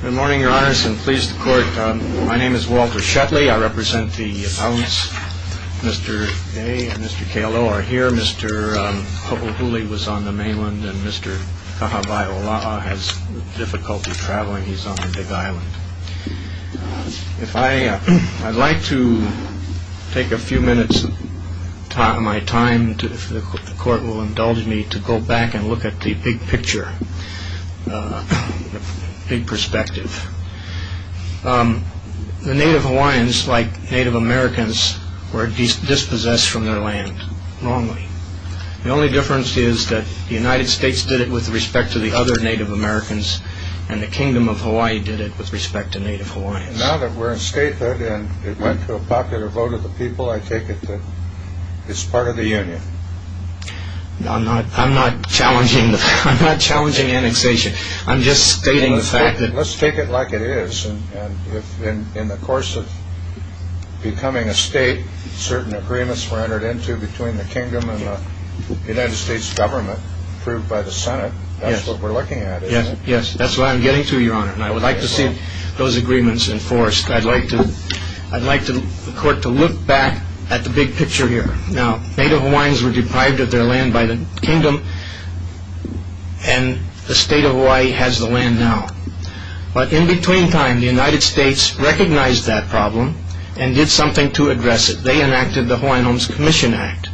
Good morning, your honors, and please the court. My name is Walter Shetley. I represent the appellants. Mr. Day and Mr. Kailoa are here. Mr. Popohuli was on the mainland, and Mr. Kahawai-Ola'a has difficulty traveling. He's on the Big Island. I'd like to take a few minutes of my time, if the court will indulge me, to go back and look at the big picture, the big perspective. The Native Hawaiians, like Native Americans, were dispossessed from their land wrongly. The only difference is that the United States did it with respect to the other Native Americans, and the Kingdom of Hawaii did it with respect to Native Hawaiians. Now that we're in statehood, and it went to a popular vote of the people, I take it that it's part of the union. I'm not challenging annexation. I'm just stating the fact that... Let's take it like it is. In the course of becoming a state, certain agreements were entered into between the Kingdom and the United States government, approved by the Senate. That's what we're looking at, isn't it? Yes, that's what I'm getting to, Your Honor, and I would like to see those agreements enforced. I'd like the court to look back at the big picture here. Now, Native Hawaiians were deprived of their land by the Kingdom, and the state of Hawaii has the land now. But in between time, the United States recognized that problem and did something to address it. They enacted the Hawaiian Homes Commission Act,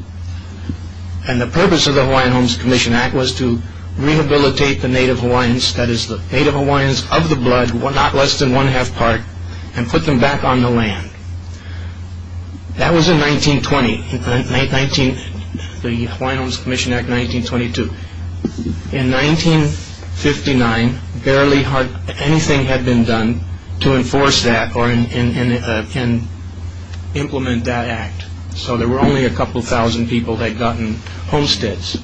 and the purpose of the Hawaiian Homes Commission Act was to rehabilitate the Native Hawaiians, that is the Native Hawaiians of the blood, not less than one-half part, and put them back on the land. That was in 1920, the Hawaiian Homes Commission Act, 1922. In 1959, barely anything had been done to enforce that or implement that act. So there were only a couple thousand people that had gotten homesteads.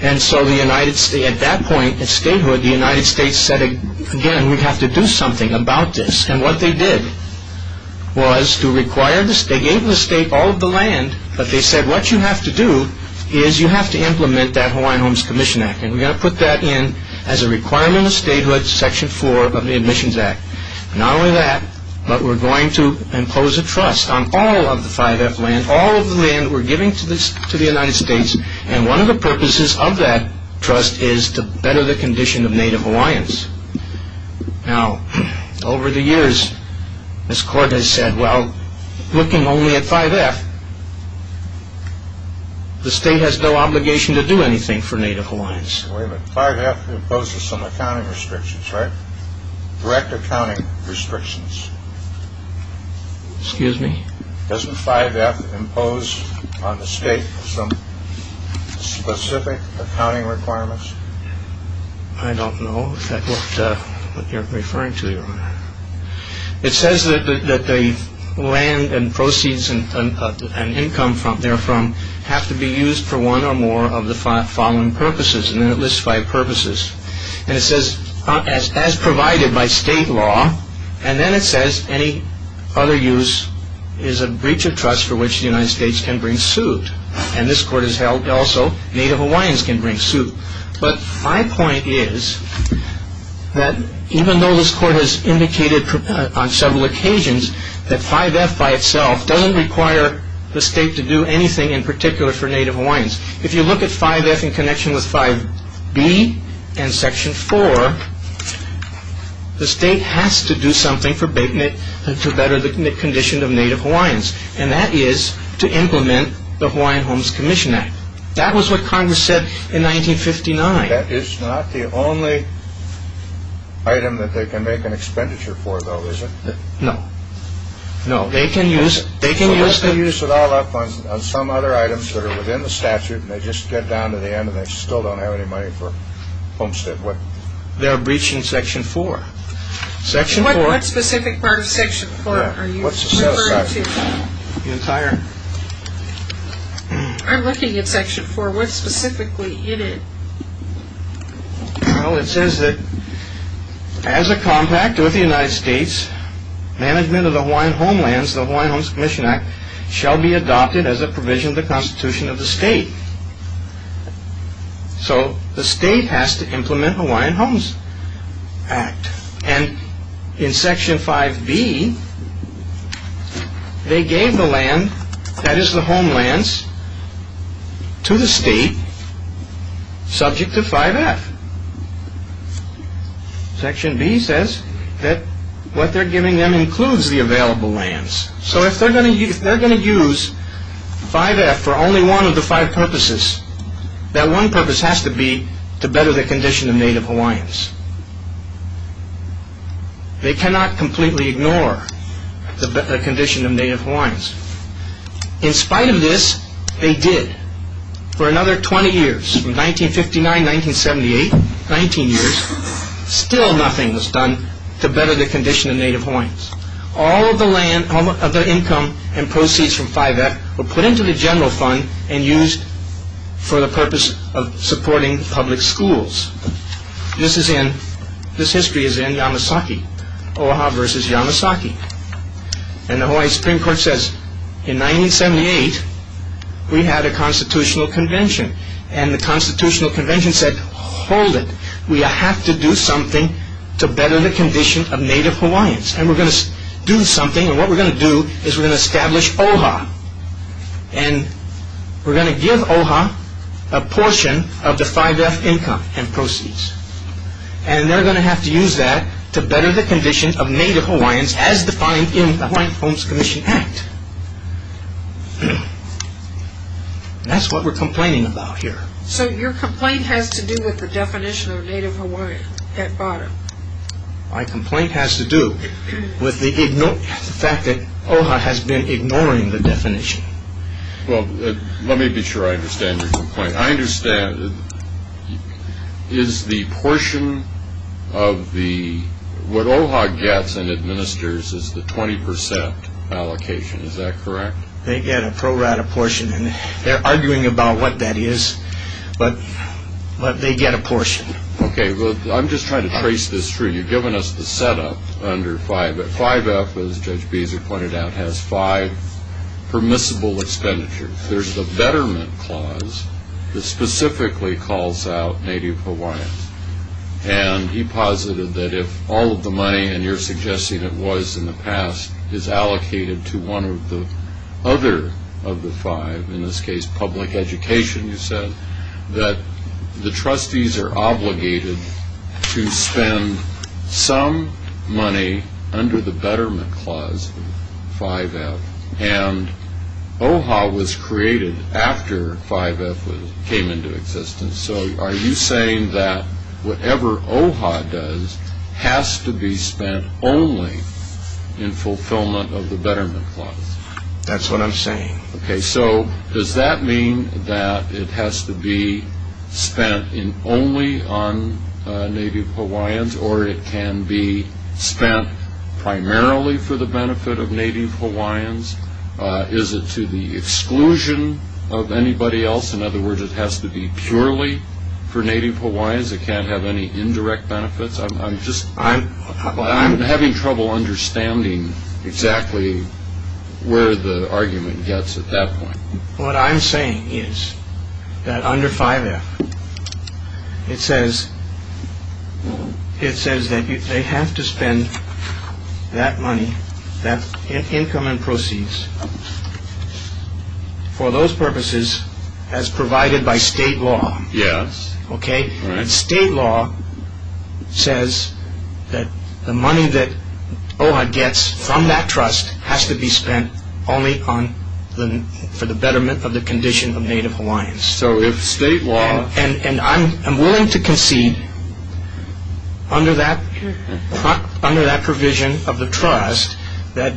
At that point in statehood, the United States said, again, we have to do something about this. And what they did was, they gave the state all of the land, but they said, what you have to do is you have to implement that Hawaiian Homes Commission Act. And we're going to put that in as a requirement of statehood, Section 4 of the Admissions Act. Not only that, but we're going to impose a trust on all of the 5F land, all of the land we're giving to the United States, and one of the purposes of that trust is to better the condition of Native Hawaiians. Now, over the years, this court has said, well, looking only at 5F, the state has no obligation to do anything for Native Hawaiians. Wait a minute, 5F imposes some accounting restrictions, right? Direct accounting restrictions. Excuse me? Doesn't 5F impose on the state some specific accounting requirements? I don't know if that's what you're referring to, Your Honor. It says that the land and proceeds and income therefrom have to be used for one or more of the following purposes. And then it lists five purposes. And it says, as provided by state law. And then it says any other use is a breach of trust for which the United States can bring suit. And this court has held also Native Hawaiians can bring suit. But my point is that even though this court has indicated on several occasions that 5F by itself doesn't require the state to do anything in particular for Native Hawaiians, if you look at 5F in connection with 5B and Section 4, the state has to do something to better the condition of Native Hawaiians. And that is to implement the Hawaiian Homes Commission Act. That was what Congress said in 1959. That is not the only item that they can make an expenditure for, though, is it? No. No, they can use it all up on some other items that are within the statute, and they just get down to the end and they still don't have any money for Homestead. They're breaching Section 4. What specific part of Section 4 are you referring to? I'm looking at Section 4. What specifically is it? Well, it says that as a compact with the United States, management of the Hawaiian homelands, the Hawaiian Homes Commission Act, shall be adopted as a provision of the Constitution of the state. So the state has to implement the Hawaiian Homes Act. And in Section 5B, they gave the land, that is the homelands, to the state subject to 5F. Section B says that what they're giving them includes the available lands. So if they're going to use 5F for only one of the five purposes, that one purpose has to be to better the condition of Native Hawaiians. They cannot completely ignore the condition of Native Hawaiians. In spite of this, they did. For another 20 years, from 1959, 1978, 19 years, still nothing was done to better the condition of Native Hawaiians. All of the income and proceeds from 5F were put into the general fund and used for the purpose of supporting public schools. This history is in Yamasaki, Oaha versus Yamasaki. And the Hawaiian Supreme Court says, in 1978, we had a constitutional convention. And the constitutional convention said, hold it, we have to do something to better the condition of Native Hawaiians. And we're going to do something. And what we're going to do is we're going to establish OHA. And we're going to give OHA a portion of the 5F income and proceeds. And they're going to have to use that to better the condition of Native Hawaiians as defined in the Hawaiian Homes Commission Act. That's what we're complaining about here. So your complaint has to do with the definition of Native Hawaiian at bottom. My complaint has to do with the fact that OHA has been ignoring the definition. Well, let me be sure I understand your complaint. I understand. Is the portion of the, what OHA gets and administers is the 20% allocation. Is that correct? They get a pro rata portion. And they're arguing about what that is. But they get a portion. Okay, I'm just trying to trace this through. You've given us the setup under 5F. 5F, as Judge Beeser pointed out, has five permissible expenditures. There's the betterment clause that specifically calls out Native Hawaiians. And he posited that if all of the money, and you're suggesting it was in the past, is allocated to one of the other of the five, in this case public education, you said, that the trustees are obligated to spend some money under the betterment clause of 5F. And OHA was created after 5F came into existence. So are you saying that whatever OHA does has to be spent only in fulfillment of the betterment clause? That's what I'm saying. Okay, so does that mean that it has to be spent only on Native Hawaiians, or it can be spent primarily for the benefit of Native Hawaiians? Is it to the exclusion of anybody else? In other words, it has to be purely for Native Hawaiians? It can't have any indirect benefits? I'm having trouble understanding exactly where the argument gets at that point. What I'm saying is that under 5F, it says that they have to spend that money, that income and proceeds, for those purposes as provided by state law. State law says that the money that OHA gets from that trust has to be spent only for the betterment of the condition of Native Hawaiians. And I'm willing to concede, under that provision of the trust, that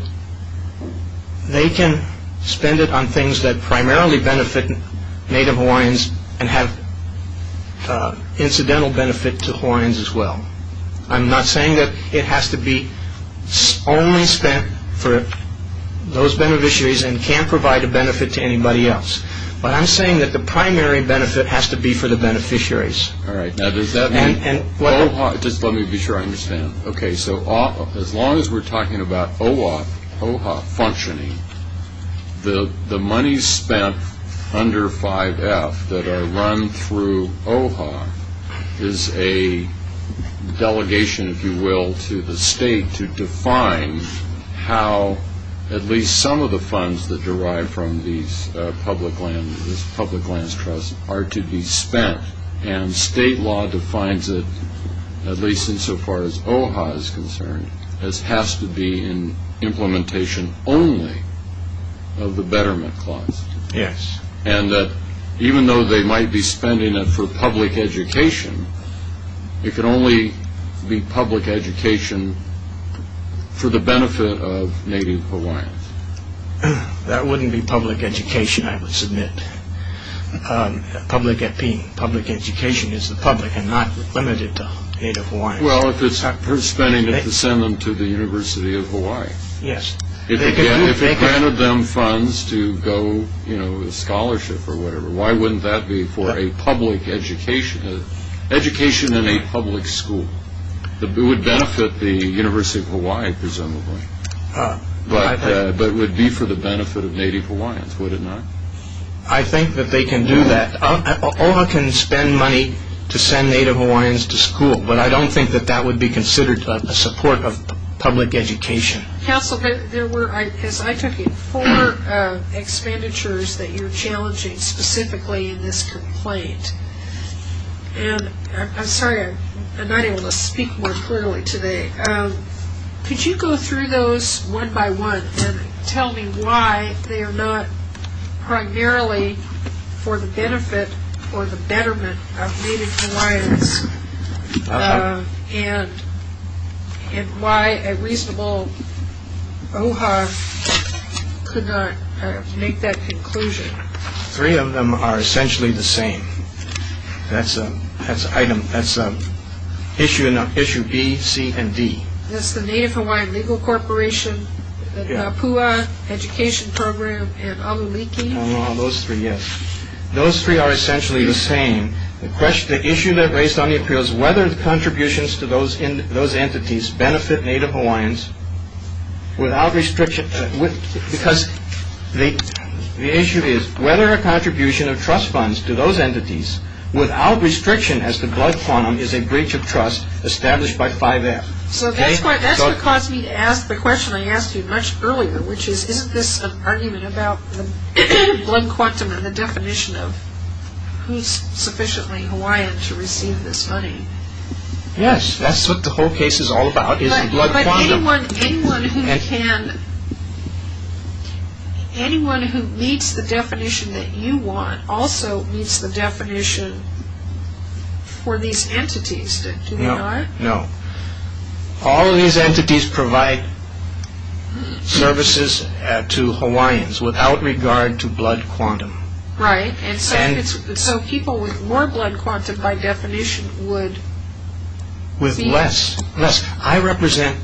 they can spend it on things that primarily benefit Native Hawaiians and have incidental benefit to Hawaiians as well. I'm not saying that it has to be only spent for those beneficiaries and can't provide a benefit to anybody else, but I'm saying that the primary benefit has to be for the beneficiaries. All right, now does that mean OHA, just let me be sure I understand. Okay, so as long as we're talking about OHA functioning, the money spent under 5F that are run through OHA is a delegation, if you will, to the state to define how at least some of the funds that derive from these public lands trusts are to be spent. And state law defines it, at least insofar as OHA is concerned, as has to be in implementation only of the betterment clause. Yes. And that even though they might be spending it for public education, it can only be public education for the benefit of Native Hawaiians. That wouldn't be public education, I would submit. Public education is the public and not limited to Native Hawaiians. Well, if it's for spending it to send them to the University of Hawaii. Yes. If it granted them funds to go, you know, a scholarship or whatever, why wouldn't that be for a public education, education in a public school? It would benefit the University of Hawaii, presumably. But it would be for the benefit of Native Hawaiians, would it not? I think that they can do that. OHA can spend money to send Native Hawaiians to school, but I don't think that that would be considered a support of public education. Counsel, there were, as I took it, four expenditures that you're challenging specifically in this complaint. And I'm sorry, I'm not able to speak more clearly today. Could you go through those one by one and tell me why they are not primarily for the benefit or the betterment of Native Hawaiians and why a reasonable OHA could not make that conclusion? Three of them are essentially the same. That's an item. That's issue B, C, and D. That's the Native Hawaiian Legal Corporation, the PUA Education Program, and Aluliki. No, no, those three, yes. Those three are essentially the same. The issue that raised on the appeal is whether the contributions to those entities benefit Native Hawaiians. Because the issue is whether a contribution of trust funds to those entities without restriction as to blood quantum is a breach of trust established by 5F. So that's what caused me to ask the question I asked you much earlier, which is isn't this an argument about the blood quantum and the definition of who's sufficiently Hawaiian to receive this money? Yes, that's what the whole case is all about, is the blood quantum. But anyone who meets the definition that you want also meets the definition for these entities, do they not? No, no. All of these entities provide services to Hawaiians without regard to blood quantum. Right, and so people with more blood quantum by definition would... I represent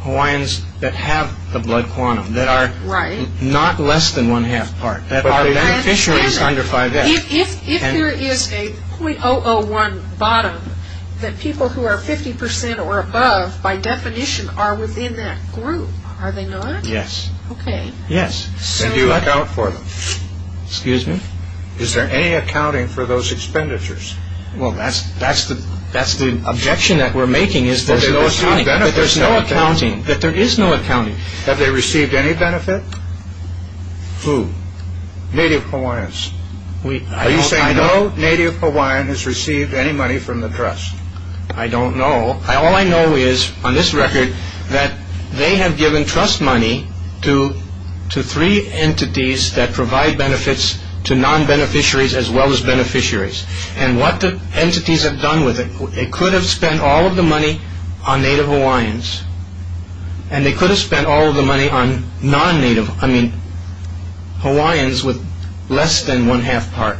Hawaiians that have the blood quantum, that are not less than one-half part, that are beneficiaries under 5F. If there is a .001 bottom that people who are 50% or above by definition are within that group, are they not? Yes. Okay. Yes, and do you account for them? Excuse me? Is there any accounting for those expenditures? Well, that's the objection that we're making is there's no accounting, that there is no accounting. Have they received any benefit? Who? Native Hawaiians. Are you saying no native Hawaiian has received any money from the trust? I don't know. All I know is, on this record, that they have given trust money to three entities that provide benefits to non-beneficiaries as well as beneficiaries. And what the entities have done with it, they could have spent all of the money on native Hawaiians, and they could have spent all of the money on non-native, I mean, Hawaiians with less than one-half part.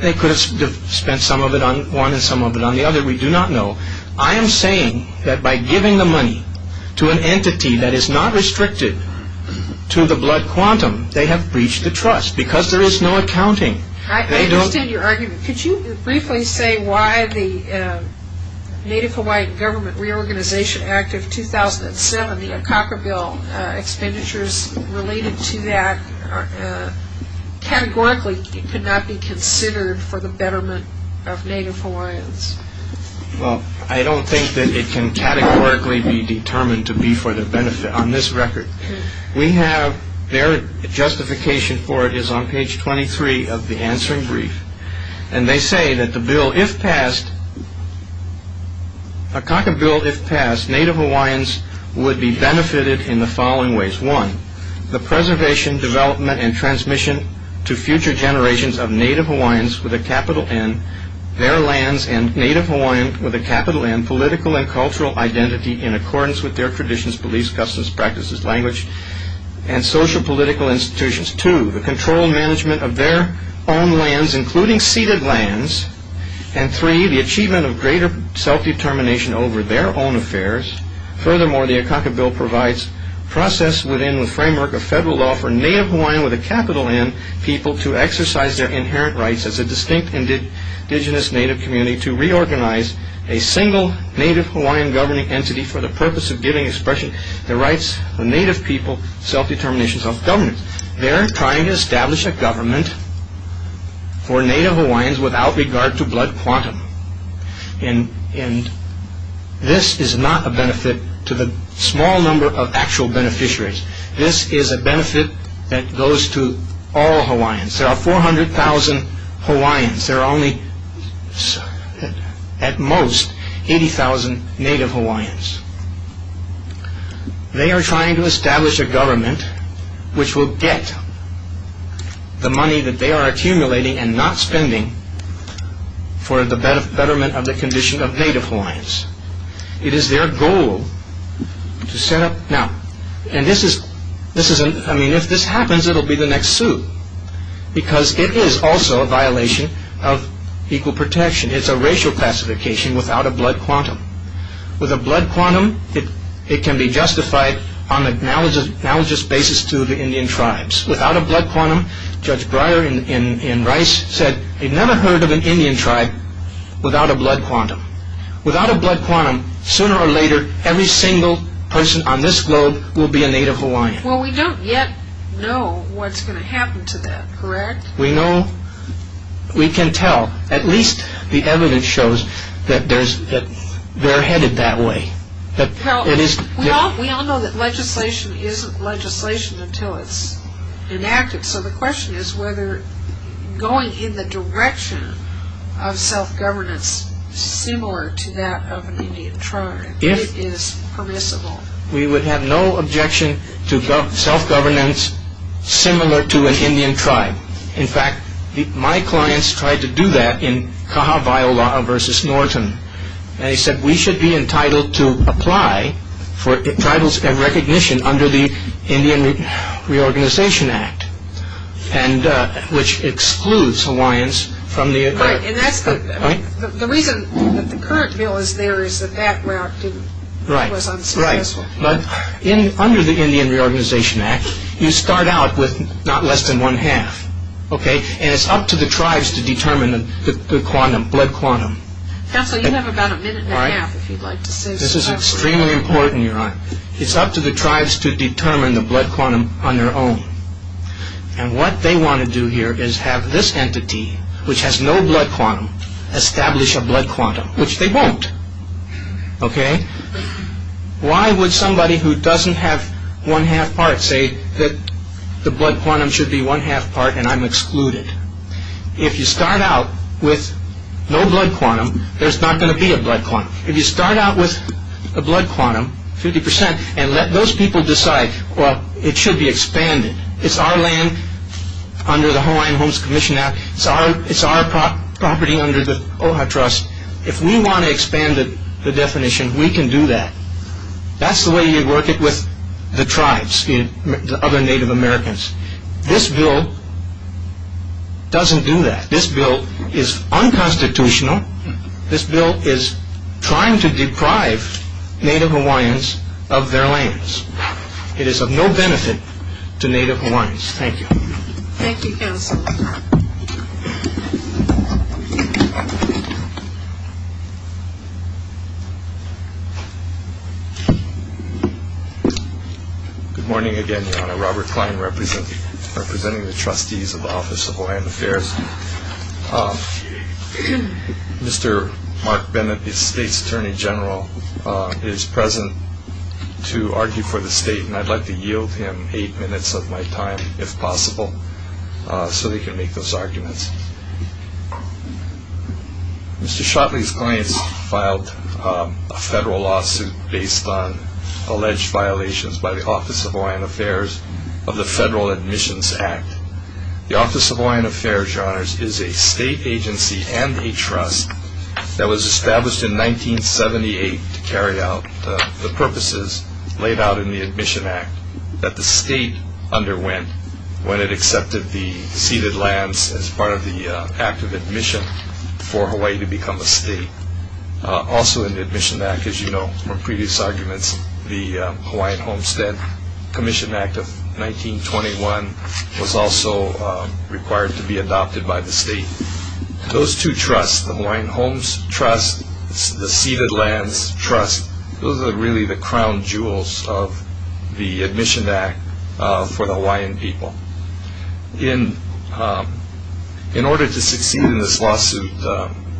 They could have spent some of it on one and some of it on the other. We do not know. I am saying that by giving the money to an entity that is not restricted to the blood quantum, they have breached the trust because there is no accounting. I understand your argument. Could you briefly say why the Native Hawaiian Government Reorganization Act of 2007, the Akaka Bill expenditures related to that, categorically could not be considered for the betterment of native Hawaiians? Well, I don't think that it can categorically be determined to be for their benefit. On this record, we have their justification for it is on page 23 of the answering brief. And they say that the bill, if passed, Akaka Bill, if passed, native Hawaiians would be benefited in the following ways. One, the preservation, development, and transmission to future generations of native Hawaiians with a capital N, their lands, and native Hawaiians with a capital N, political and cultural identity in accordance with their traditions, beliefs, customs, practices, language, and social political institutions. Two, the control and management of their own lands, including ceded lands. And three, the achievement of greater self-determination over their own affairs. Furthermore, the Akaka Bill provides process within the framework of federal law for native Hawaiian with a capital N people to exercise their inherent rights as a distinct indigenous native community to reorganize a single native Hawaiian governing entity for the purpose of giving expression to the rights of native people, self-determination, self-governance. They're trying to establish a government for native Hawaiians without regard to blood quantum. And this is not a benefit to the small number of actual beneficiaries. This is a benefit that goes to all Hawaiians. There are 400,000 Hawaiians. There are only, at most, 80,000 native Hawaiians. They are trying to establish a government which will get the money that they are accumulating and not spending for the betterment of the condition of native Hawaiians. It is their goal to set up... Now, and this is... I mean, if this happens, it will be the next suit. Because it is also a violation of equal protection. It's a racial pacification without a blood quantum. With a blood quantum, it can be justified on a knowledgeous basis to the Indian tribes. Without a blood quantum, Judge Breyer in Rice said, he'd never heard of an Indian tribe without a blood quantum. Without a blood quantum, sooner or later, every single person on this globe will be a native Hawaiian. Well, we don't yet know what's going to happen to them, correct? We know. We can tell. At least the evidence shows that they're headed that way. We all know that legislation isn't legislation until it's enacted. So the question is whether going in the direction of self-governance, similar to that of an Indian tribe, it is permissible. We would have no objection to self-governance similar to an Indian tribe. In fact, my clients tried to do that in Cahavaiola versus Norton. They said we should be entitled to apply for titles and recognition under the Indian Reorganization Act, which excludes Hawaiians from the agreement. The reason that the current bill is there is that that route was unsuccessful. Under the Indian Reorganization Act, you start out with not less than one-half. And it's up to the tribes to determine the quantum, blood quantum. Counsel, you have about a minute and a half if you'd like to say something. This is extremely important, Your Honor. It's up to the tribes to determine the blood quantum on their own. And what they want to do here is have this entity, which has no blood quantum, establish a blood quantum, which they won't. Why would somebody who doesn't have one-half part say that the blood quantum should be one-half part and I'm excluded? If you start out with no blood quantum, there's not going to be a blood quantum. If you start out with a blood quantum, 50%, and let those people decide, well, it should be expanded. It's our land under the Hawaiian Homes Commission Act. It's our property under the OHA Trust. If we want to expand the definition, we can do that. That's the way you work it with the tribes, the other Native Americans. This bill doesn't do that. This bill is unconstitutional. This bill is trying to deprive Native Hawaiians of their lands. It is of no benefit to Native Hawaiians. Thank you. Thank you, Counsel. Good morning. Again, Robert Klein representing the trustees of the Office of Hawaiian Affairs. Mr. Mark Bennett, the state's attorney general, is present to argue for the state. And I'd like to yield him eight minutes of my time, if possible, so he can make those arguments. Mr. Shotley's clients filed a federal lawsuit based on alleged violations by the Office of Hawaiian Affairs of the Federal Admissions Act. The Office of Hawaiian Affairs, Your Honors, is a state agency and a trust that was established in 1978 to carry out the purposes laid out in the Admission Act that the state underwent when it accepted the ceded lands as part of the act of admission for Hawaii to become a state. Also in the Admission Act, as you know from previous arguments, the Hawaiian Homestead Commission Act of 1921 was also required to be adopted by the state. Those two trusts, the Hawaiian Homes Trust, the Ceded Lands Trust, those are really the crown jewels of the Admission Act for the Hawaiian people. In order to succeed in this lawsuit,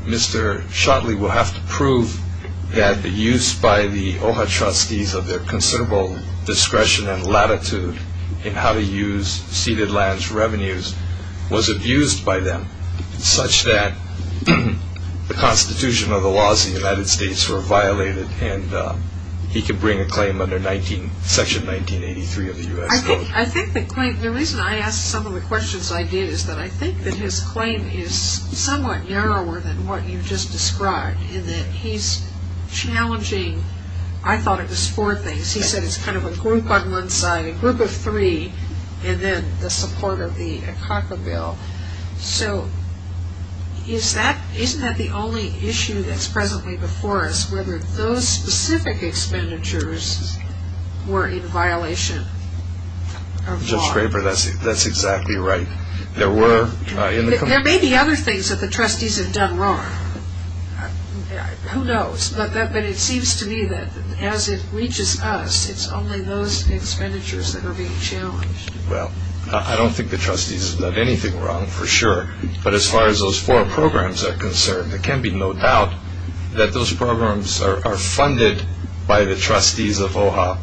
Mr. Shotley will have to prove that the use by the OHA trustees of their considerable discretion and latitude in how to use ceded lands revenues was abused by them such that the constitution of the laws of the United States were violated and he could bring a claim under Section 1983 of the U.S. Code. I think the claim, the reason I asked some of the questions I did is that I think that his claim is somewhat narrower than what you just described in that he's challenging, I thought it was four things, he said it's kind of a group on one side, a group of three, and then the support of the OCACA bill. So isn't that the only issue that's presently before us, whether those specific expenditures were in violation of law? Judge Scraper, that's exactly right. There may be other things that the trustees have done wrong, who knows, but it seems to me that as it reaches us, it's only those expenditures that are being challenged. Well, I don't think the trustees have done anything wrong, for sure, but as far as those four programs are concerned, there can be no doubt that those programs are funded by the trustees of OHA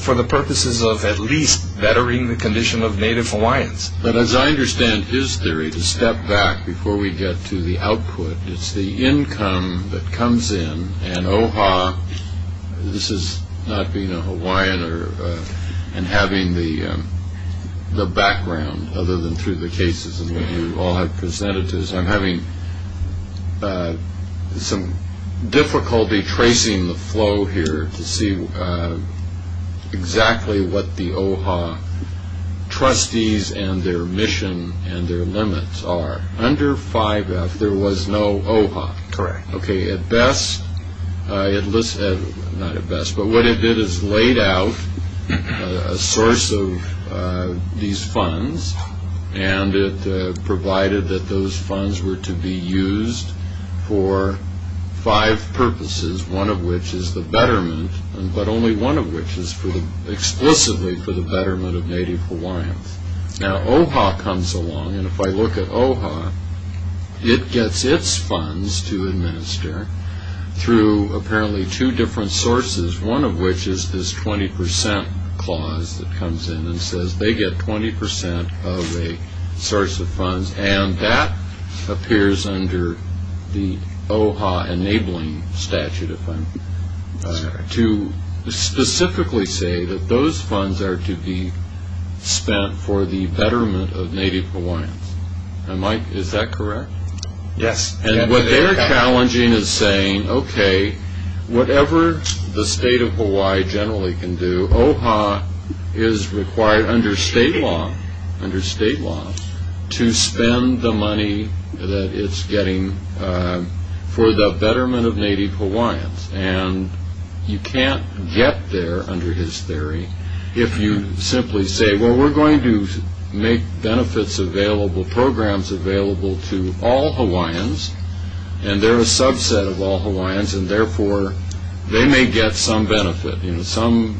for the purposes of at least bettering the condition of Native Hawaiians. But as I understand his theory, to step back before we get to the output, it's the income that comes in and OHA, this is not being a Hawaiian and having the background other than through the cases that you all have presented to us. I'm having some difficulty tracing the flow here to see exactly what the OHA trustees and their mission and their limits are. Under 5F, there was no OHA. Correct. Okay, at best, not at best, but what it did is laid out a source of these funds and it provided that those funds were to be used for five purposes, one of which is the betterment, but only one of which is explicitly for the betterment of Native Hawaiians. Now, OHA comes along, and if I look at OHA, it gets its funds to administer through apparently two different sources, one of which is this 20% clause that comes in and says they get 20% of a source of funds, and that appears under the OHA enabling statute, to specifically say that those funds are to be spent for the betterment of Native Hawaiians. Is that correct? Yes. And what they're challenging is saying, okay, whatever the state of Hawaii generally can do, OHA is required under state law to spend the money that it's getting for the betterment of Native Hawaiians, and you can't get there, under his theory, if you simply say, well, we're going to make benefits available, programs available to all Hawaiians, and they're a subset of all Hawaiians, and therefore, they may get some benefit. Some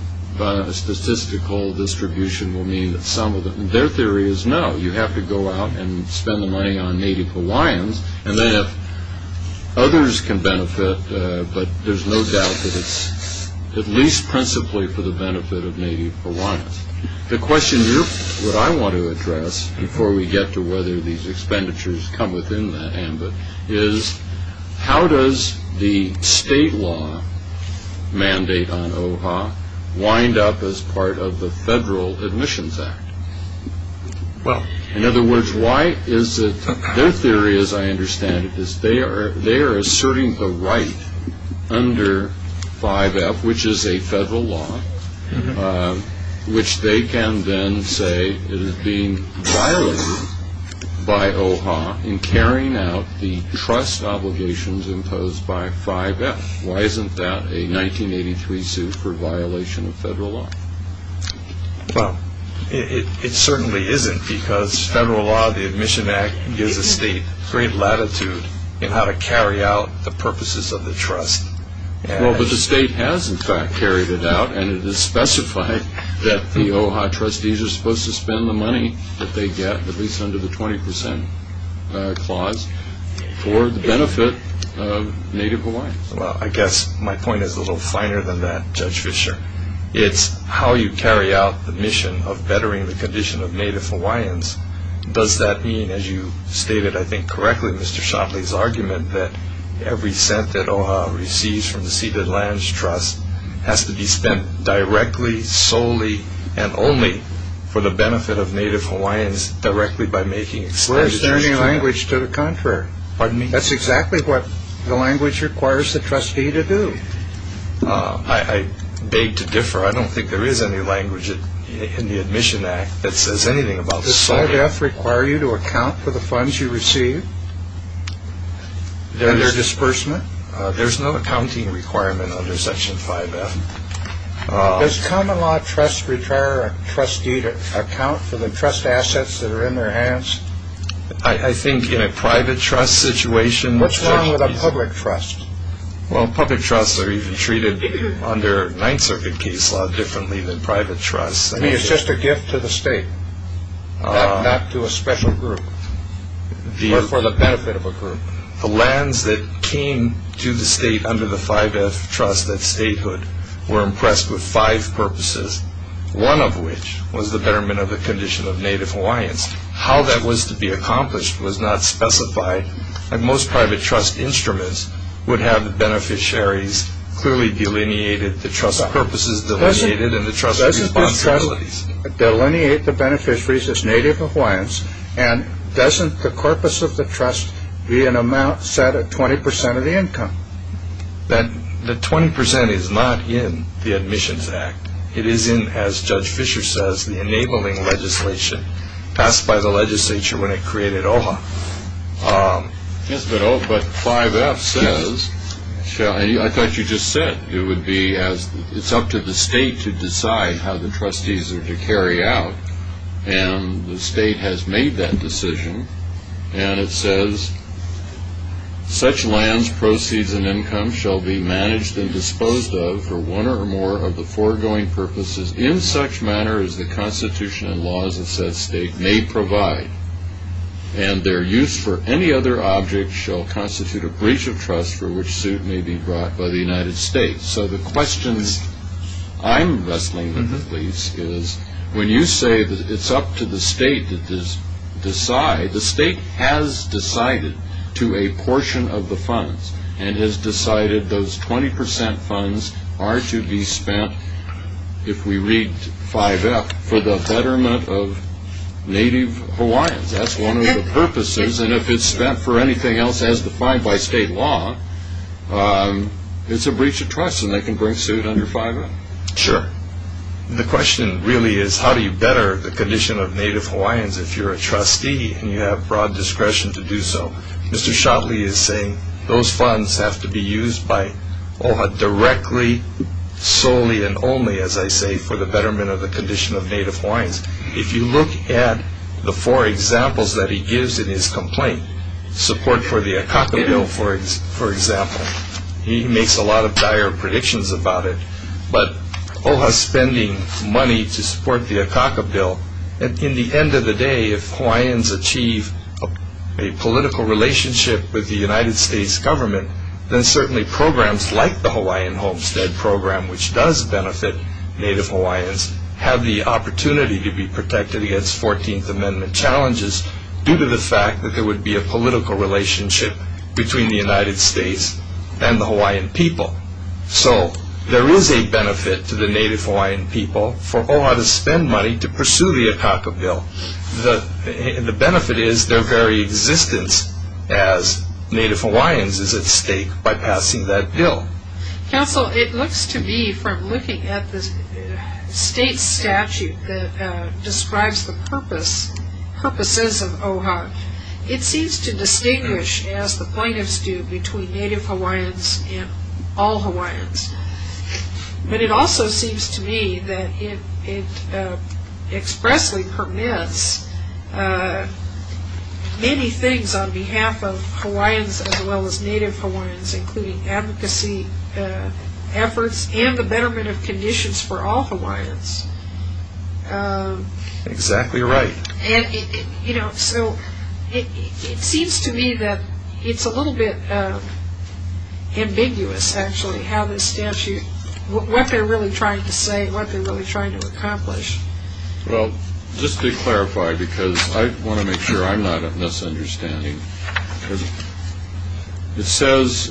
statistical distribution will mean that some of them, and their theory is no, you have to go out and spend the money on Native Hawaiians, and then others can benefit, but there's no doubt that it's at least principally for the benefit of Native Hawaiians. The question here, what I want to address, before we get to whether these expenditures come within that ambit, is how does the state law mandate on OHA wind up as part of the Federal Admissions Act? Well, in other words, their theory, as I understand it, is they are asserting the right under 5F, which is a federal law, which they can then say is being violated by OHA in carrying out the trust obligations imposed by 5F. Why isn't that a 1983 suit for violation of federal law? Well, it certainly isn't because federal law, the Admission Act, gives the state great latitude in how to carry out the purposes of the trust. Well, but the state has, in fact, carried it out, and it is specified that the OHA trustees are supposed to spend the money that they get, at least under the 20% clause, for the benefit of Native Hawaiians. Well, I guess my point is a little finer than that, Judge Fischer. It's how you carry out the mission of bettering the condition of Native Hawaiians. Does that mean, as you stated, I think, correctly, Mr. Shotley's argument, that every cent that OHA receives from the Ceded Lands Trust has to be spent directly, solely, and only for the benefit of Native Hawaiians directly by making expenditures? Well, is there any language to the contrary? Pardon me? That's exactly what the language requires the trustee to do. I beg to differ. I don't think there is any language in the Admission Act that says anything about solely. Does 5F require you to account for the funds you receive and their disbursement? There's no accounting requirement under Section 5F. Does common law trust retire a trustee to account for the trust assets that are in their hands? I think in a private trust situation... What's wrong with a public trust? Well, public trusts are even treated under Ninth Circuit case law differently than private trusts. I mean, it's just a gift to the state, not to a special group or for the benefit of a group. The lands that came to the state under the 5F trust, that statehood, were impressed with five purposes, one of which was the betterment of the condition of Native Hawaiians. How that was to be accomplished was not specified, and most private trust instruments would have the beneficiaries clearly delineated, the trust purposes delineated, and the trust responsibilities. Doesn't the trust delineate the beneficiaries as Native Hawaiians, and doesn't the corpus of the trust be an amount set at 20% of the income? The 20% is not in the Admissions Act. It is in, as Judge Fischer says, the enabling legislation passed by the legislature when it created OHA. Yes, but 5F says, I thought you just said, it's up to the state to decide how the trustees are to carry out, and the state has made that decision, and it says, such lands, proceeds, and income shall be managed and disposed of for one or more of the foregoing purposes in such manner as the Constitution and laws of said state may provide. And their use for any other object shall constitute a breach of trust for which suit may be brought by the United States. So the question I'm wrestling with, at least, is when you say that it's up to the state to decide, the state has decided to a portion of the funds, and has decided those 20% funds are to be spent, if we read 5F, for the betterment of Native Hawaiians. That's one of the purposes, and if it's spent for anything else, as defined by state law, it's a breach of trust, and they can bring suit under 5F. Sure. The question really is, how do you better the condition of Native Hawaiians if you're a trustee and you have broad discretion to do so? Mr. Shotley is saying those funds have to be used by OHA directly, solely, and only, as I say, for the betterment of the condition of Native Hawaiians. If you look at the four examples that he gives in his complaint, support for the Akaka Bill, for example, he makes a lot of dire predictions about it, but OHA spending money to support the Akaka Bill, and in the end of the day, if Hawaiians achieve a political relationship with the United States government, then certainly programs like the Hawaiian Homestead Program, which does benefit Native Hawaiians, have the opportunity to be protected against 14th Amendment challenges, due to the fact that there would be a political relationship between the United States and the Hawaiian people. So, there is a benefit to the Native Hawaiian people for OHA to spend money to pursue the Akaka Bill. The benefit is their very existence as Native Hawaiians is at stake by passing that bill. Counsel, it looks to me, from looking at the state statute that describes the purposes of OHA, it seems to distinguish, as the plaintiffs do, between Native Hawaiians and all Hawaiians. But it also seems to me that it expressly permits many things on behalf of Hawaiians, as well as Native Hawaiians, including advocacy efforts, and the betterment of conditions for all Hawaiians. Exactly right. So, it seems to me that it's a little bit ambiguous, actually, how the statute, what they're really trying to say, what they're really trying to accomplish. Well, just to clarify, because I want to make sure I'm not a misunderstanding, it says,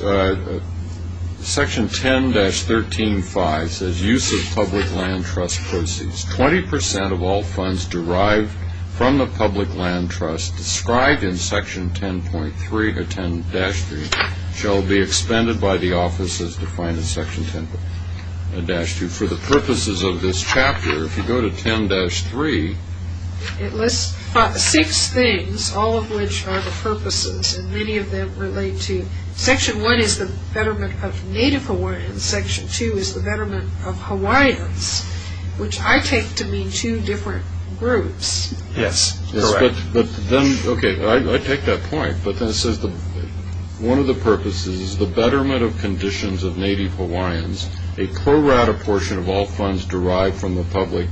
Section 10-13-5 says, Use of public land trust proceeds. 20% of all funds derived from the public land trust described in Section 10-3 shall be expended by the offices defined in Section 10-2. For the purposes of this chapter, if you go to 10-3, it lists six things, all of which are the purposes, and many of them relate to, Section 1 is the betterment of Native Hawaiians, Section 2 is the betterment of Hawaiians, which I take to mean two different groups. Yes, correct. Okay, I take that point, but then it says one of the purposes is the betterment of conditions of Native Hawaiians. A pro rata portion of all funds derived from the public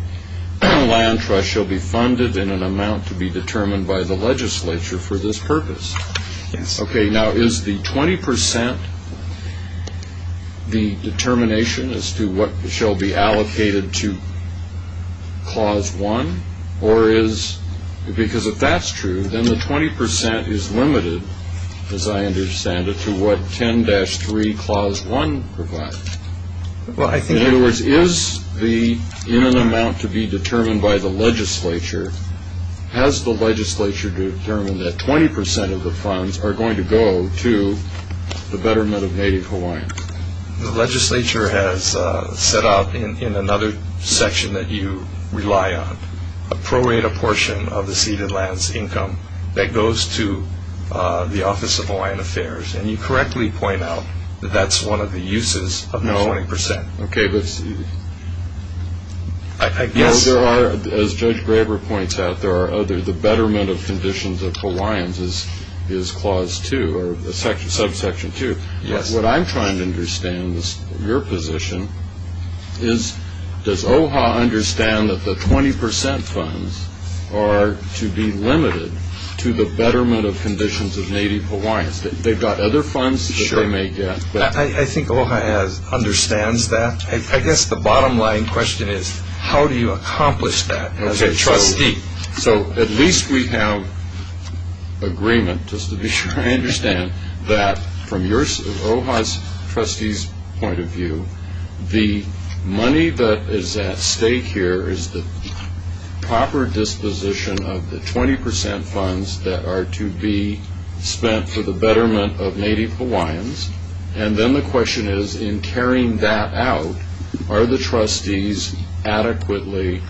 land trust shall be funded in an amount to be determined by the legislature for this purpose. Yes. Okay, now is the 20% the determination as to what shall be allocated to Clause 1? Because if that's true, then the 20% is limited, as I understand it, to what 10-3 Clause 1 provides. In other words, is the amount to be determined by the legislature, has the legislature determined that 20% of the funds are going to go to the betterment of Native Hawaiians? The legislature has set out in another section that you rely on a pro rata portion of the ceded land's income that goes to the Office of Hawaiian Affairs, and you correctly point out that that's one of the uses of that 20%. No, okay, but I guess there are, as Judge Graber points out, there are other, the betterment of conditions of Hawaiians is Clause 2, or subsection 2. Yes. What I'm trying to understand, your position, is does OHA understand that the 20% funds are to be limited to the betterment of conditions of Native Hawaiians? They've got other funds that they may get. I think OHA understands that. I guess the bottom line question is how do you accomplish that as a trustee? So at least we have agreement, just to be sure I understand, that from OHA's trustees' point of view, the money that is at stake here is the proper disposition of the 20% funds that are to be spent for the betterment of Native Hawaiians, and then the question is in carrying that out, are the trustees adequately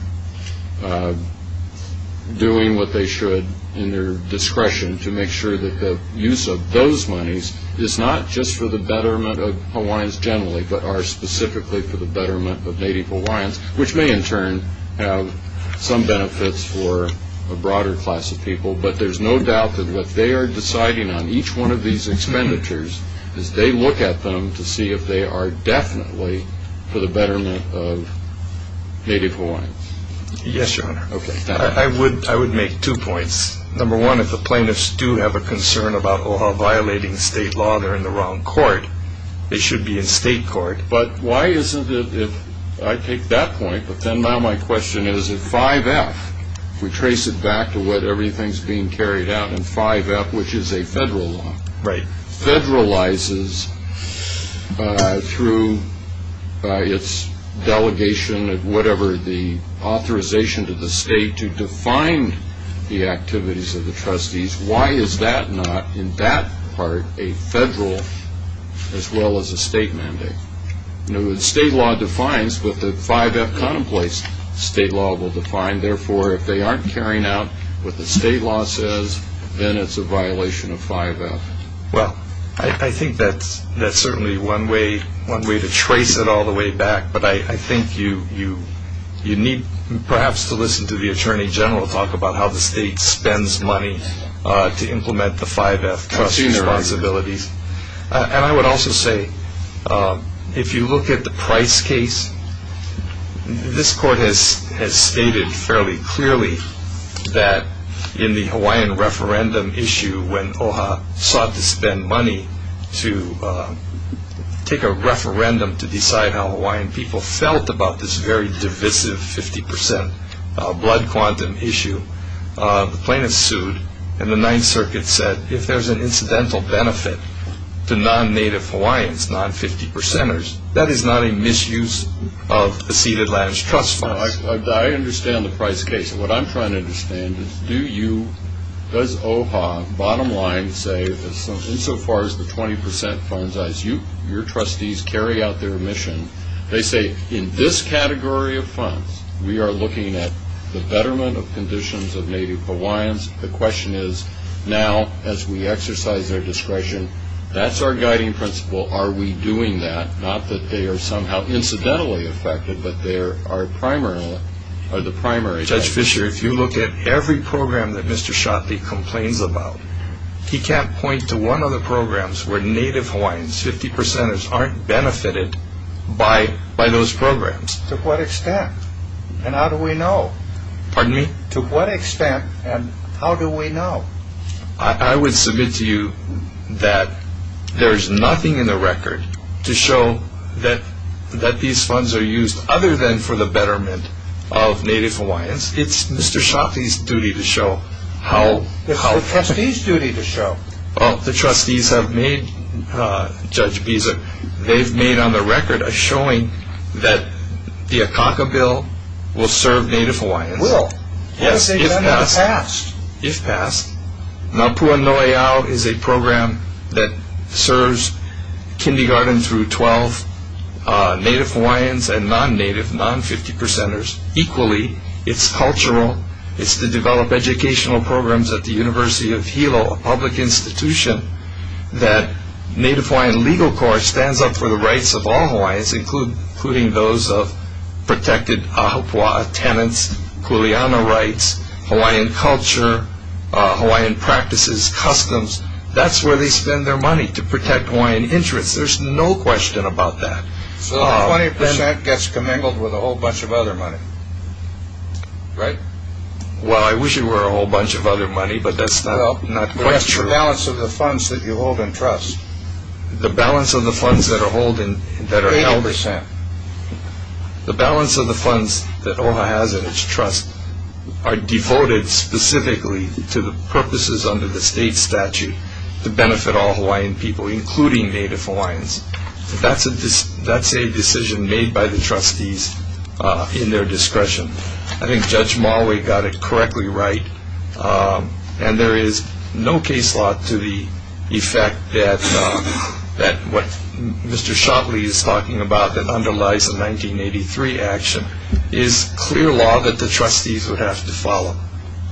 doing what they should in their discretion to make sure that the use of those monies is not just for the betterment of Hawaiians generally, but are specifically for the betterment of Native Hawaiians, which may in turn have some benefits for a broader class of people, but there's no doubt that what they are deciding on each one of these expenditures is they look at them to see if they are definitely for the betterment of Native Hawaiians. Yes, Your Honor. Okay. I would make two points. Number one, if the plaintiffs do have a concern about OHA violating state law, they're in the wrong court. They should be in state court. But why isn't it, if I take that point, but then now my question is if 5F, we trace it back to what everything is being carried out in 5F, which is a federal law, federalizes through its delegation of whatever the authorization to the state to define the activities of the trustees, why is that not in that part a federal as well as a state mandate? The state law defines what the 5F contemplates state law will define. Therefore, if they aren't carrying out what the state law says, then it's a violation of 5F. Well, I think that's certainly one way to trace it all the way back, but I think you need perhaps to listen to the attorney general talk about how the state spends money to implement the 5F trust responsibilities. And I would also say if you look at the price case, this court has stated fairly clearly that in the Hawaiian referendum issue when OHA sought to spend money to take a referendum to decide how Hawaiian people felt about this very divisive 50% blood quantum issue, the plaintiffs sued and the Ninth Circuit said if there's an incidental benefit to non-native Hawaiians, non-50%ers, that is not a misuse of the ceded lands trust funds. I understand the price case. What I'm trying to understand is do you, does OHA bottom line say insofar as the 20% funds as your trustees carry out their mission, they say in this category of funds we are looking at the betterment of conditions of native Hawaiians. The question is now as we exercise our discretion, that's our guiding principle. Are we doing that? Not that they are somehow incidentally affected, but they are the primary. Judge Fischer, if you look at every program that Mr. Shotley complains about, he can't point to one of the programs where native Hawaiians, 50%ers, aren't benefited by those programs. To what extent and how do we know? Pardon me? To what extent and how do we know? I would submit to you that there is nothing in the record to show that these funds are used other than for the betterment of native Hawaiians. It's Mr. Shotley's duty to show how. It's the trustees' duty to show. The trustees have made, Judge Bieseck, they've made on the record a showing that the Akaka Bill will serve native Hawaiians. It will. Yes, if passed. If passed. Mapua No'eau is a program that serves kindergarten through 12 native Hawaiians and non-native, non-50%ers. Equally, it's cultural. It's to develop educational programs at the University of Hilo, a public institution, including those of protected ahupua'a tenants, kuleana rights, Hawaiian culture, Hawaiian practices, customs. That's where they spend their money, to protect Hawaiian interests. There's no question about that. So 20% gets commingled with a whole bunch of other money, right? Well, I wish it were a whole bunch of other money, but that's not quite true. Well, that's the balance of the funds that you hold in trust. The balance of the funds that are held in trust. 20%. The balance of the funds that OHA has in its trust are devoted specifically to the purposes under the state statute to benefit all Hawaiian people, including native Hawaiians. That's a decision made by the trustees in their discretion. I think Judge Marley got it correctly right, and there is no case law to the effect that what Mr. Shockley is talking about that underlies the 1983 action is clear law that the trustees would have to follow.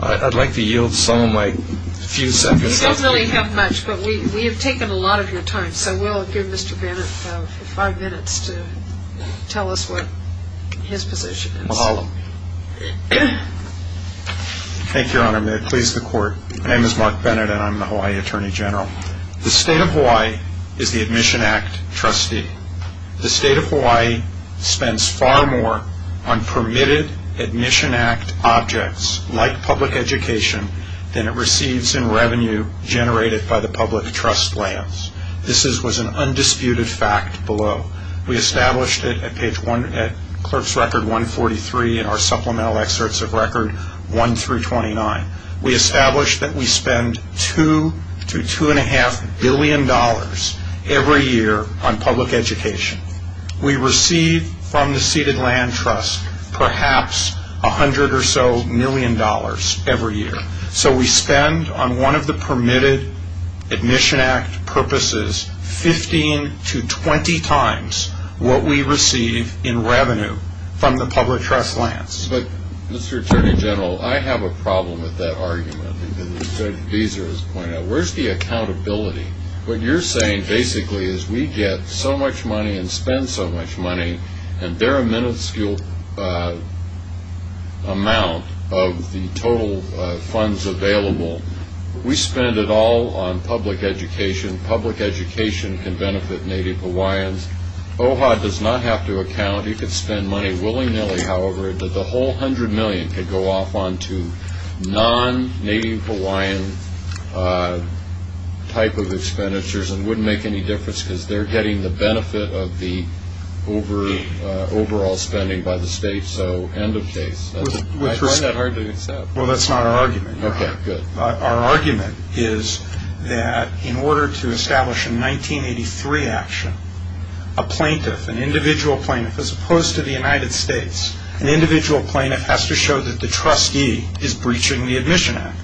I'd like to yield some of my few seconds. We don't really have much, but we have taken a lot of your time, so we'll give Mr. Bennett five minutes to tell us what his position is. Mahalo. Thank you, Your Honor. May it please the Court. My name is Mark Bennett, and I'm the Hawaii Attorney General. The state of Hawaii is the Admission Act trustee. The state of Hawaii spends far more on permitted Admission Act objects like public education than it receives in revenue generated by the public trust lands. This was an undisputed fact below. We established it at Clerk's Record 143 and our Supplemental Excerpts of Record 1 through 29. We established that we spend $2 to $2.5 billion every year on public education. We receive from the ceded land trust perhaps $100 or so million every year. So we spend, on one of the permitted Admission Act purposes, 15 to 20 times what we receive in revenue from the public trust lands. But, Mr. Attorney General, I have a problem with that argument. As Judge Deeser has pointed out, where's the accountability? What you're saying basically is we get so much money and spend so much money, and they're a minuscule amount of the total funds available. We spend it all on public education. Public education can benefit Native Hawaiians. OHA does not have to account. It could spend money willy-nilly, however, that the whole $100 million could go off onto non-Native Hawaiian type of expenditures and wouldn't make any difference because they're getting the benefit of the overall spending by the state. So end of case. I find that hard to accept. Well, that's not our argument. Okay, good. Our argument is that in order to establish a 1983 action, a plaintiff, an individual plaintiff, as opposed to the United States, an individual plaintiff has to show that the trustee is breaching the Admission Act.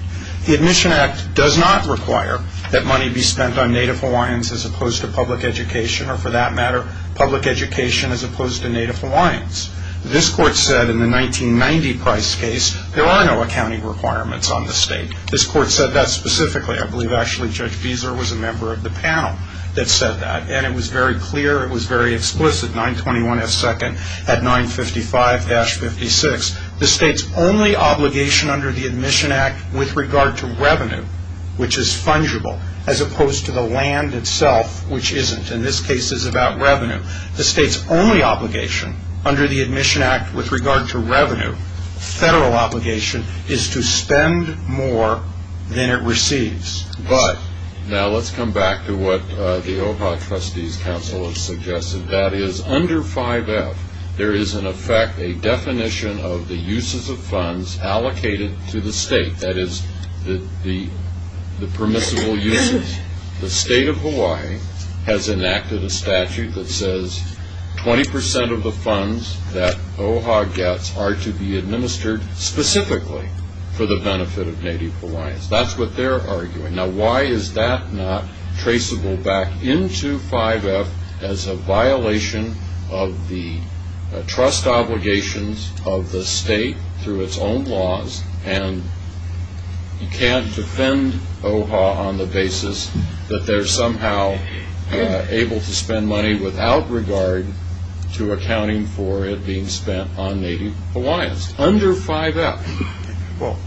The Admission Act does not require that money be spent on Native Hawaiians as opposed to public education, or for that matter, public education as opposed to Native Hawaiians. This court said in the 1990 Price case there are no accounting requirements on the state. This court said that specifically. I believe actually Judge Deeser was a member of the panel that said that, and it was very clear, it was very explicit, 921S2 at 955-56. The state's only obligation under the Admission Act with regard to revenue, which is fungible, as opposed to the land itself, which isn't. In this case, it's about revenue. The state's only obligation under the Admission Act with regard to revenue, federal obligation, is to spend more than it receives. Now, let's come back to what the OHA Trustees Council has suggested. That is, under 5F, there is, in effect, a definition of the uses of funds allocated to the state. That is, the permissible uses. The state of Hawaii has enacted a statute that says 20% of the funds that OHA gets are to be administered specifically for the benefit of Native Hawaiians. That's what they're arguing. Now, why is that not traceable back into 5F as a violation of the trust obligations of the state through its own laws, and you can't defend OHA on the basis that they're somehow able to spend money without regard to accounting for it being spent on Native Hawaiians under 5F? Well,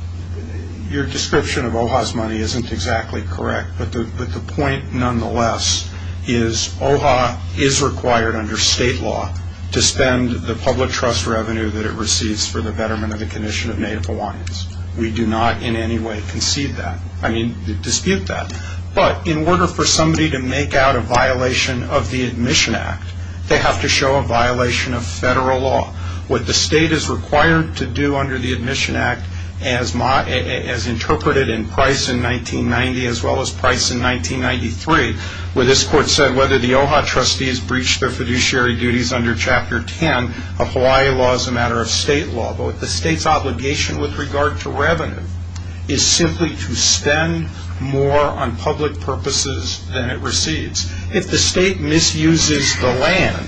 your description of OHA's money isn't exactly correct, but the point nonetheless is OHA is required under state law to spend the public trust revenue that it receives for the betterment of the condition of Native Hawaiians. We do not in any way concede that. I mean, dispute that. But in order for somebody to make out a violation of the Admission Act, they have to show a violation of federal law. What the state is required to do under the Admission Act, as interpreted in Price in 1990 as well as Price in 1993, where this court said whether the OHA trustees breached their fiduciary duties under Chapter 10 of Hawaii law is a matter of state law, but the state's obligation with regard to revenue is simply to spend more on public purposes than it receives. If the state misuses the land,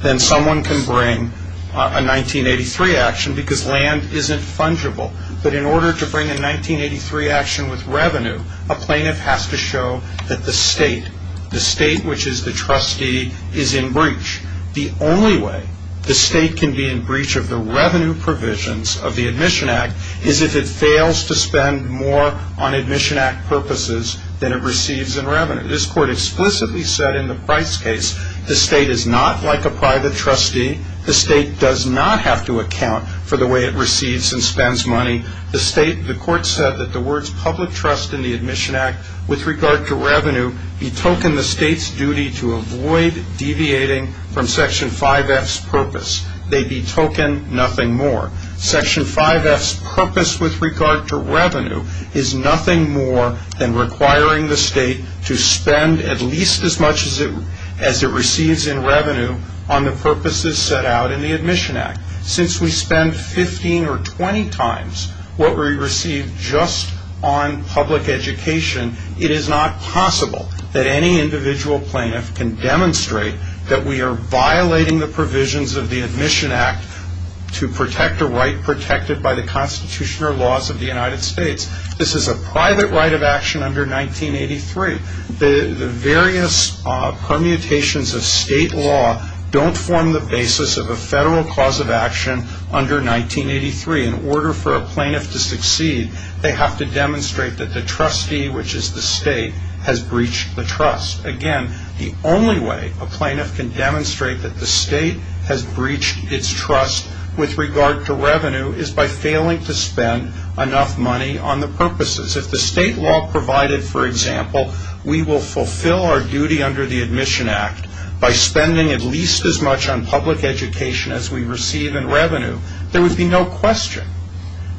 then someone can bring a 1983 action because land isn't fungible. But in order to bring a 1983 action with revenue, a plaintiff has to show that the state, the state which is the trustee, is in breach. The only way the state can be in breach of the revenue provisions of the Admission Act is if it fails to spend more on Admission Act purposes than it receives in revenue. This court explicitly said in the Price case, the state is not like a private trustee. The state does not have to account for the way it receives and spends money. The state, the court said that the words public trust in the Admission Act with regard to revenue betoken the state's duty to avoid deviating from Section 5F's purpose. They betoken nothing more. Section 5F's purpose with regard to revenue is nothing more than requiring the state to spend at least as much as it receives in revenue on the purposes set out in the Admission Act. Since we spend 15 or 20 times what we receive just on public education, it is not possible that any individual plaintiff can demonstrate that we are violating the provisions of the Admission Act to protect a right protected by the Constitution or laws of the United States. This is a private right of action under 1983. The various permutations of state law don't form the basis of a federal cause of action under 1983. In order for a plaintiff to succeed, they have to demonstrate that the trustee, which is the state, has breached the trust. Again, the only way a plaintiff can demonstrate that the state has breached its trust with regard to revenue is by failing to spend enough money on the purposes. If the state law provided, for example, we will fulfill our duty under the Admission Act by spending at least as much on public education as we receive in revenue, there would be no question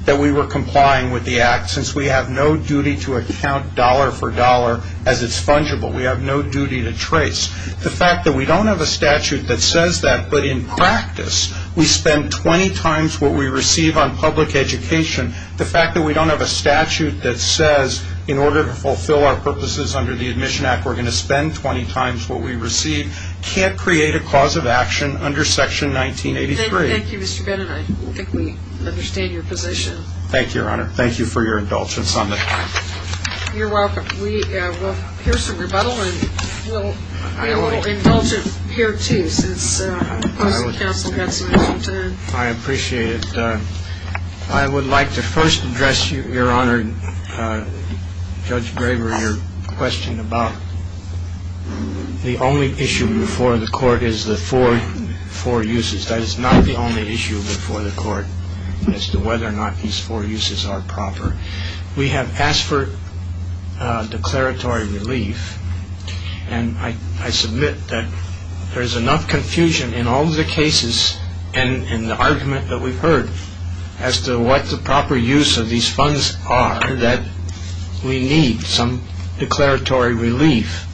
that we were complying with the Act since we have no duty to account dollar for dollar as it's fungible. We have no duty to trace. The fact that we don't have a statute that says that, but in practice, we spend 20 times what we receive on public education, the fact that we don't have a statute that says in order to fulfill our purposes under the Admission Act we're going to spend 20 times what we receive can't create a cause of action under Section 1983. Thank you, Mr. Bennett. I think we understand your position. Thank you, Your Honor. Thank you for your indulgence on the time. You're welcome. We'll hear some rebuttal, and we'll indulge it here, too, since the opposing counsel had some time. I appreciate it. I would like to first address, Your Honor, Judge Braver, your question about the only issue before the court is the four uses. That is not the only issue before the court as to whether or not these four uses are proper. We have asked for declaratory relief, and I submit that there is enough confusion in all of the cases and in the argument that we've heard as to what the proper use of these funds are that we need some declaratory relief,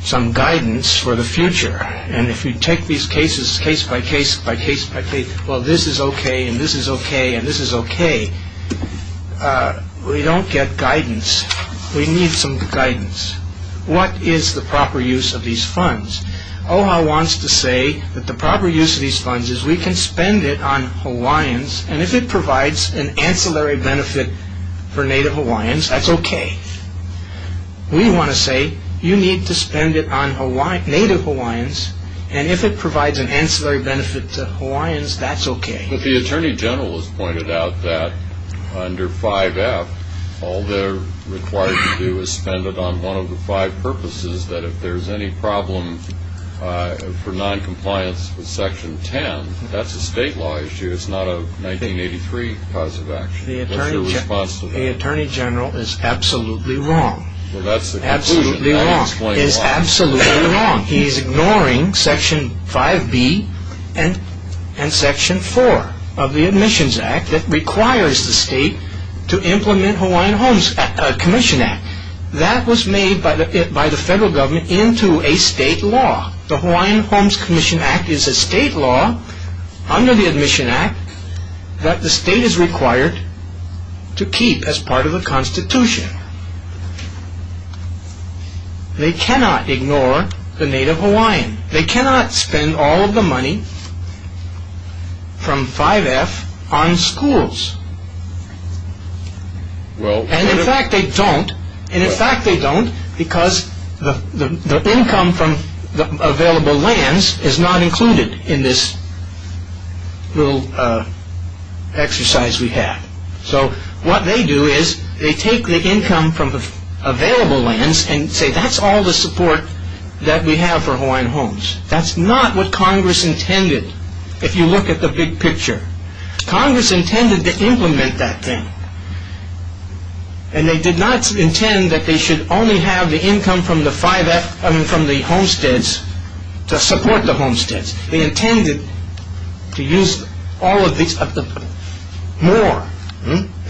some guidance for the future. And if you take these cases case by case by case by case, well, this is okay and this is okay and this is okay, we don't get guidance. We need some guidance. What is the proper use of these funds? OHA wants to say that the proper use of these funds is we can spend it on Hawaiians, and if it provides an ancillary benefit for Native Hawaiians, that's okay. We want to say you need to spend it on Native Hawaiians, and if it provides an ancillary benefit to Hawaiians, that's okay. But the Attorney General has pointed out that under 5F, all they're required to do is spend it on one of the five purposes, that if there's any problem for noncompliance with Section 10, that's a state law issue. It's not a 1983 cause of action. The Attorney General is absolutely wrong. Well, that's the conclusion. He is absolutely wrong. He is ignoring Section 5B and Section 4 of the Admissions Act that requires the state to implement Hawaiian Homes Commission Act. That was made by the federal government into a state law. The Hawaiian Homes Commission Act is a state law under the Admission Act that the state is required to keep as part of the Constitution. They cannot ignore the Native Hawaiian. They cannot spend all of the money from 5F on schools. And in fact they don't, and in fact they don't because the income from the available lands is not included in this little exercise we have. So what they do is they take the income from the available lands and say that's all the support that we have for Hawaiian Homes. That's not what Congress intended, if you look at the big picture. Congress intended to implement that thing, and they did not intend that they should only have the income from the homesteads to support the homesteads. They intended to use all of this, more.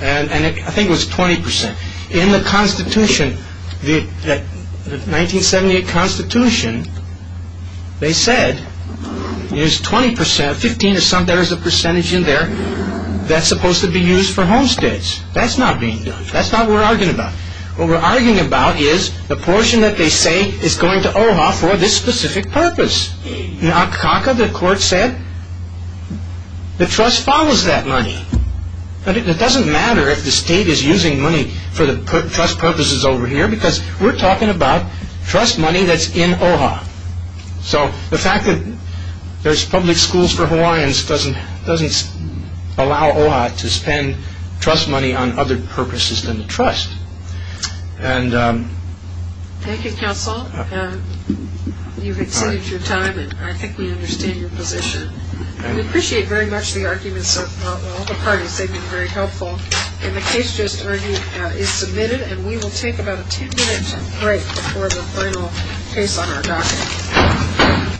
And I think it was 20%. In the Constitution, the 1978 Constitution, they said there's 20%, 15 or something, there's a percentage in there that's supposed to be used for homesteads. That's not being done. That's not what we're arguing about. What we're arguing about is the portion that they say is going to OHA for this specific purpose. In Akaka, the court said the trust follows that money. It doesn't matter if the state is using money for the trust purposes over here because we're talking about trust money that's in OHA. So the fact that there's public schools for Hawaiians doesn't allow OHA to spend trust money on other purposes than the trust. Thank you, counsel. You've extended your time, and I think we understand your position. We appreciate very much the arguments of all the parties. They've been very helpful. And the case just argued is submitted, and we will take about a ten-minute break before the final case on our docket.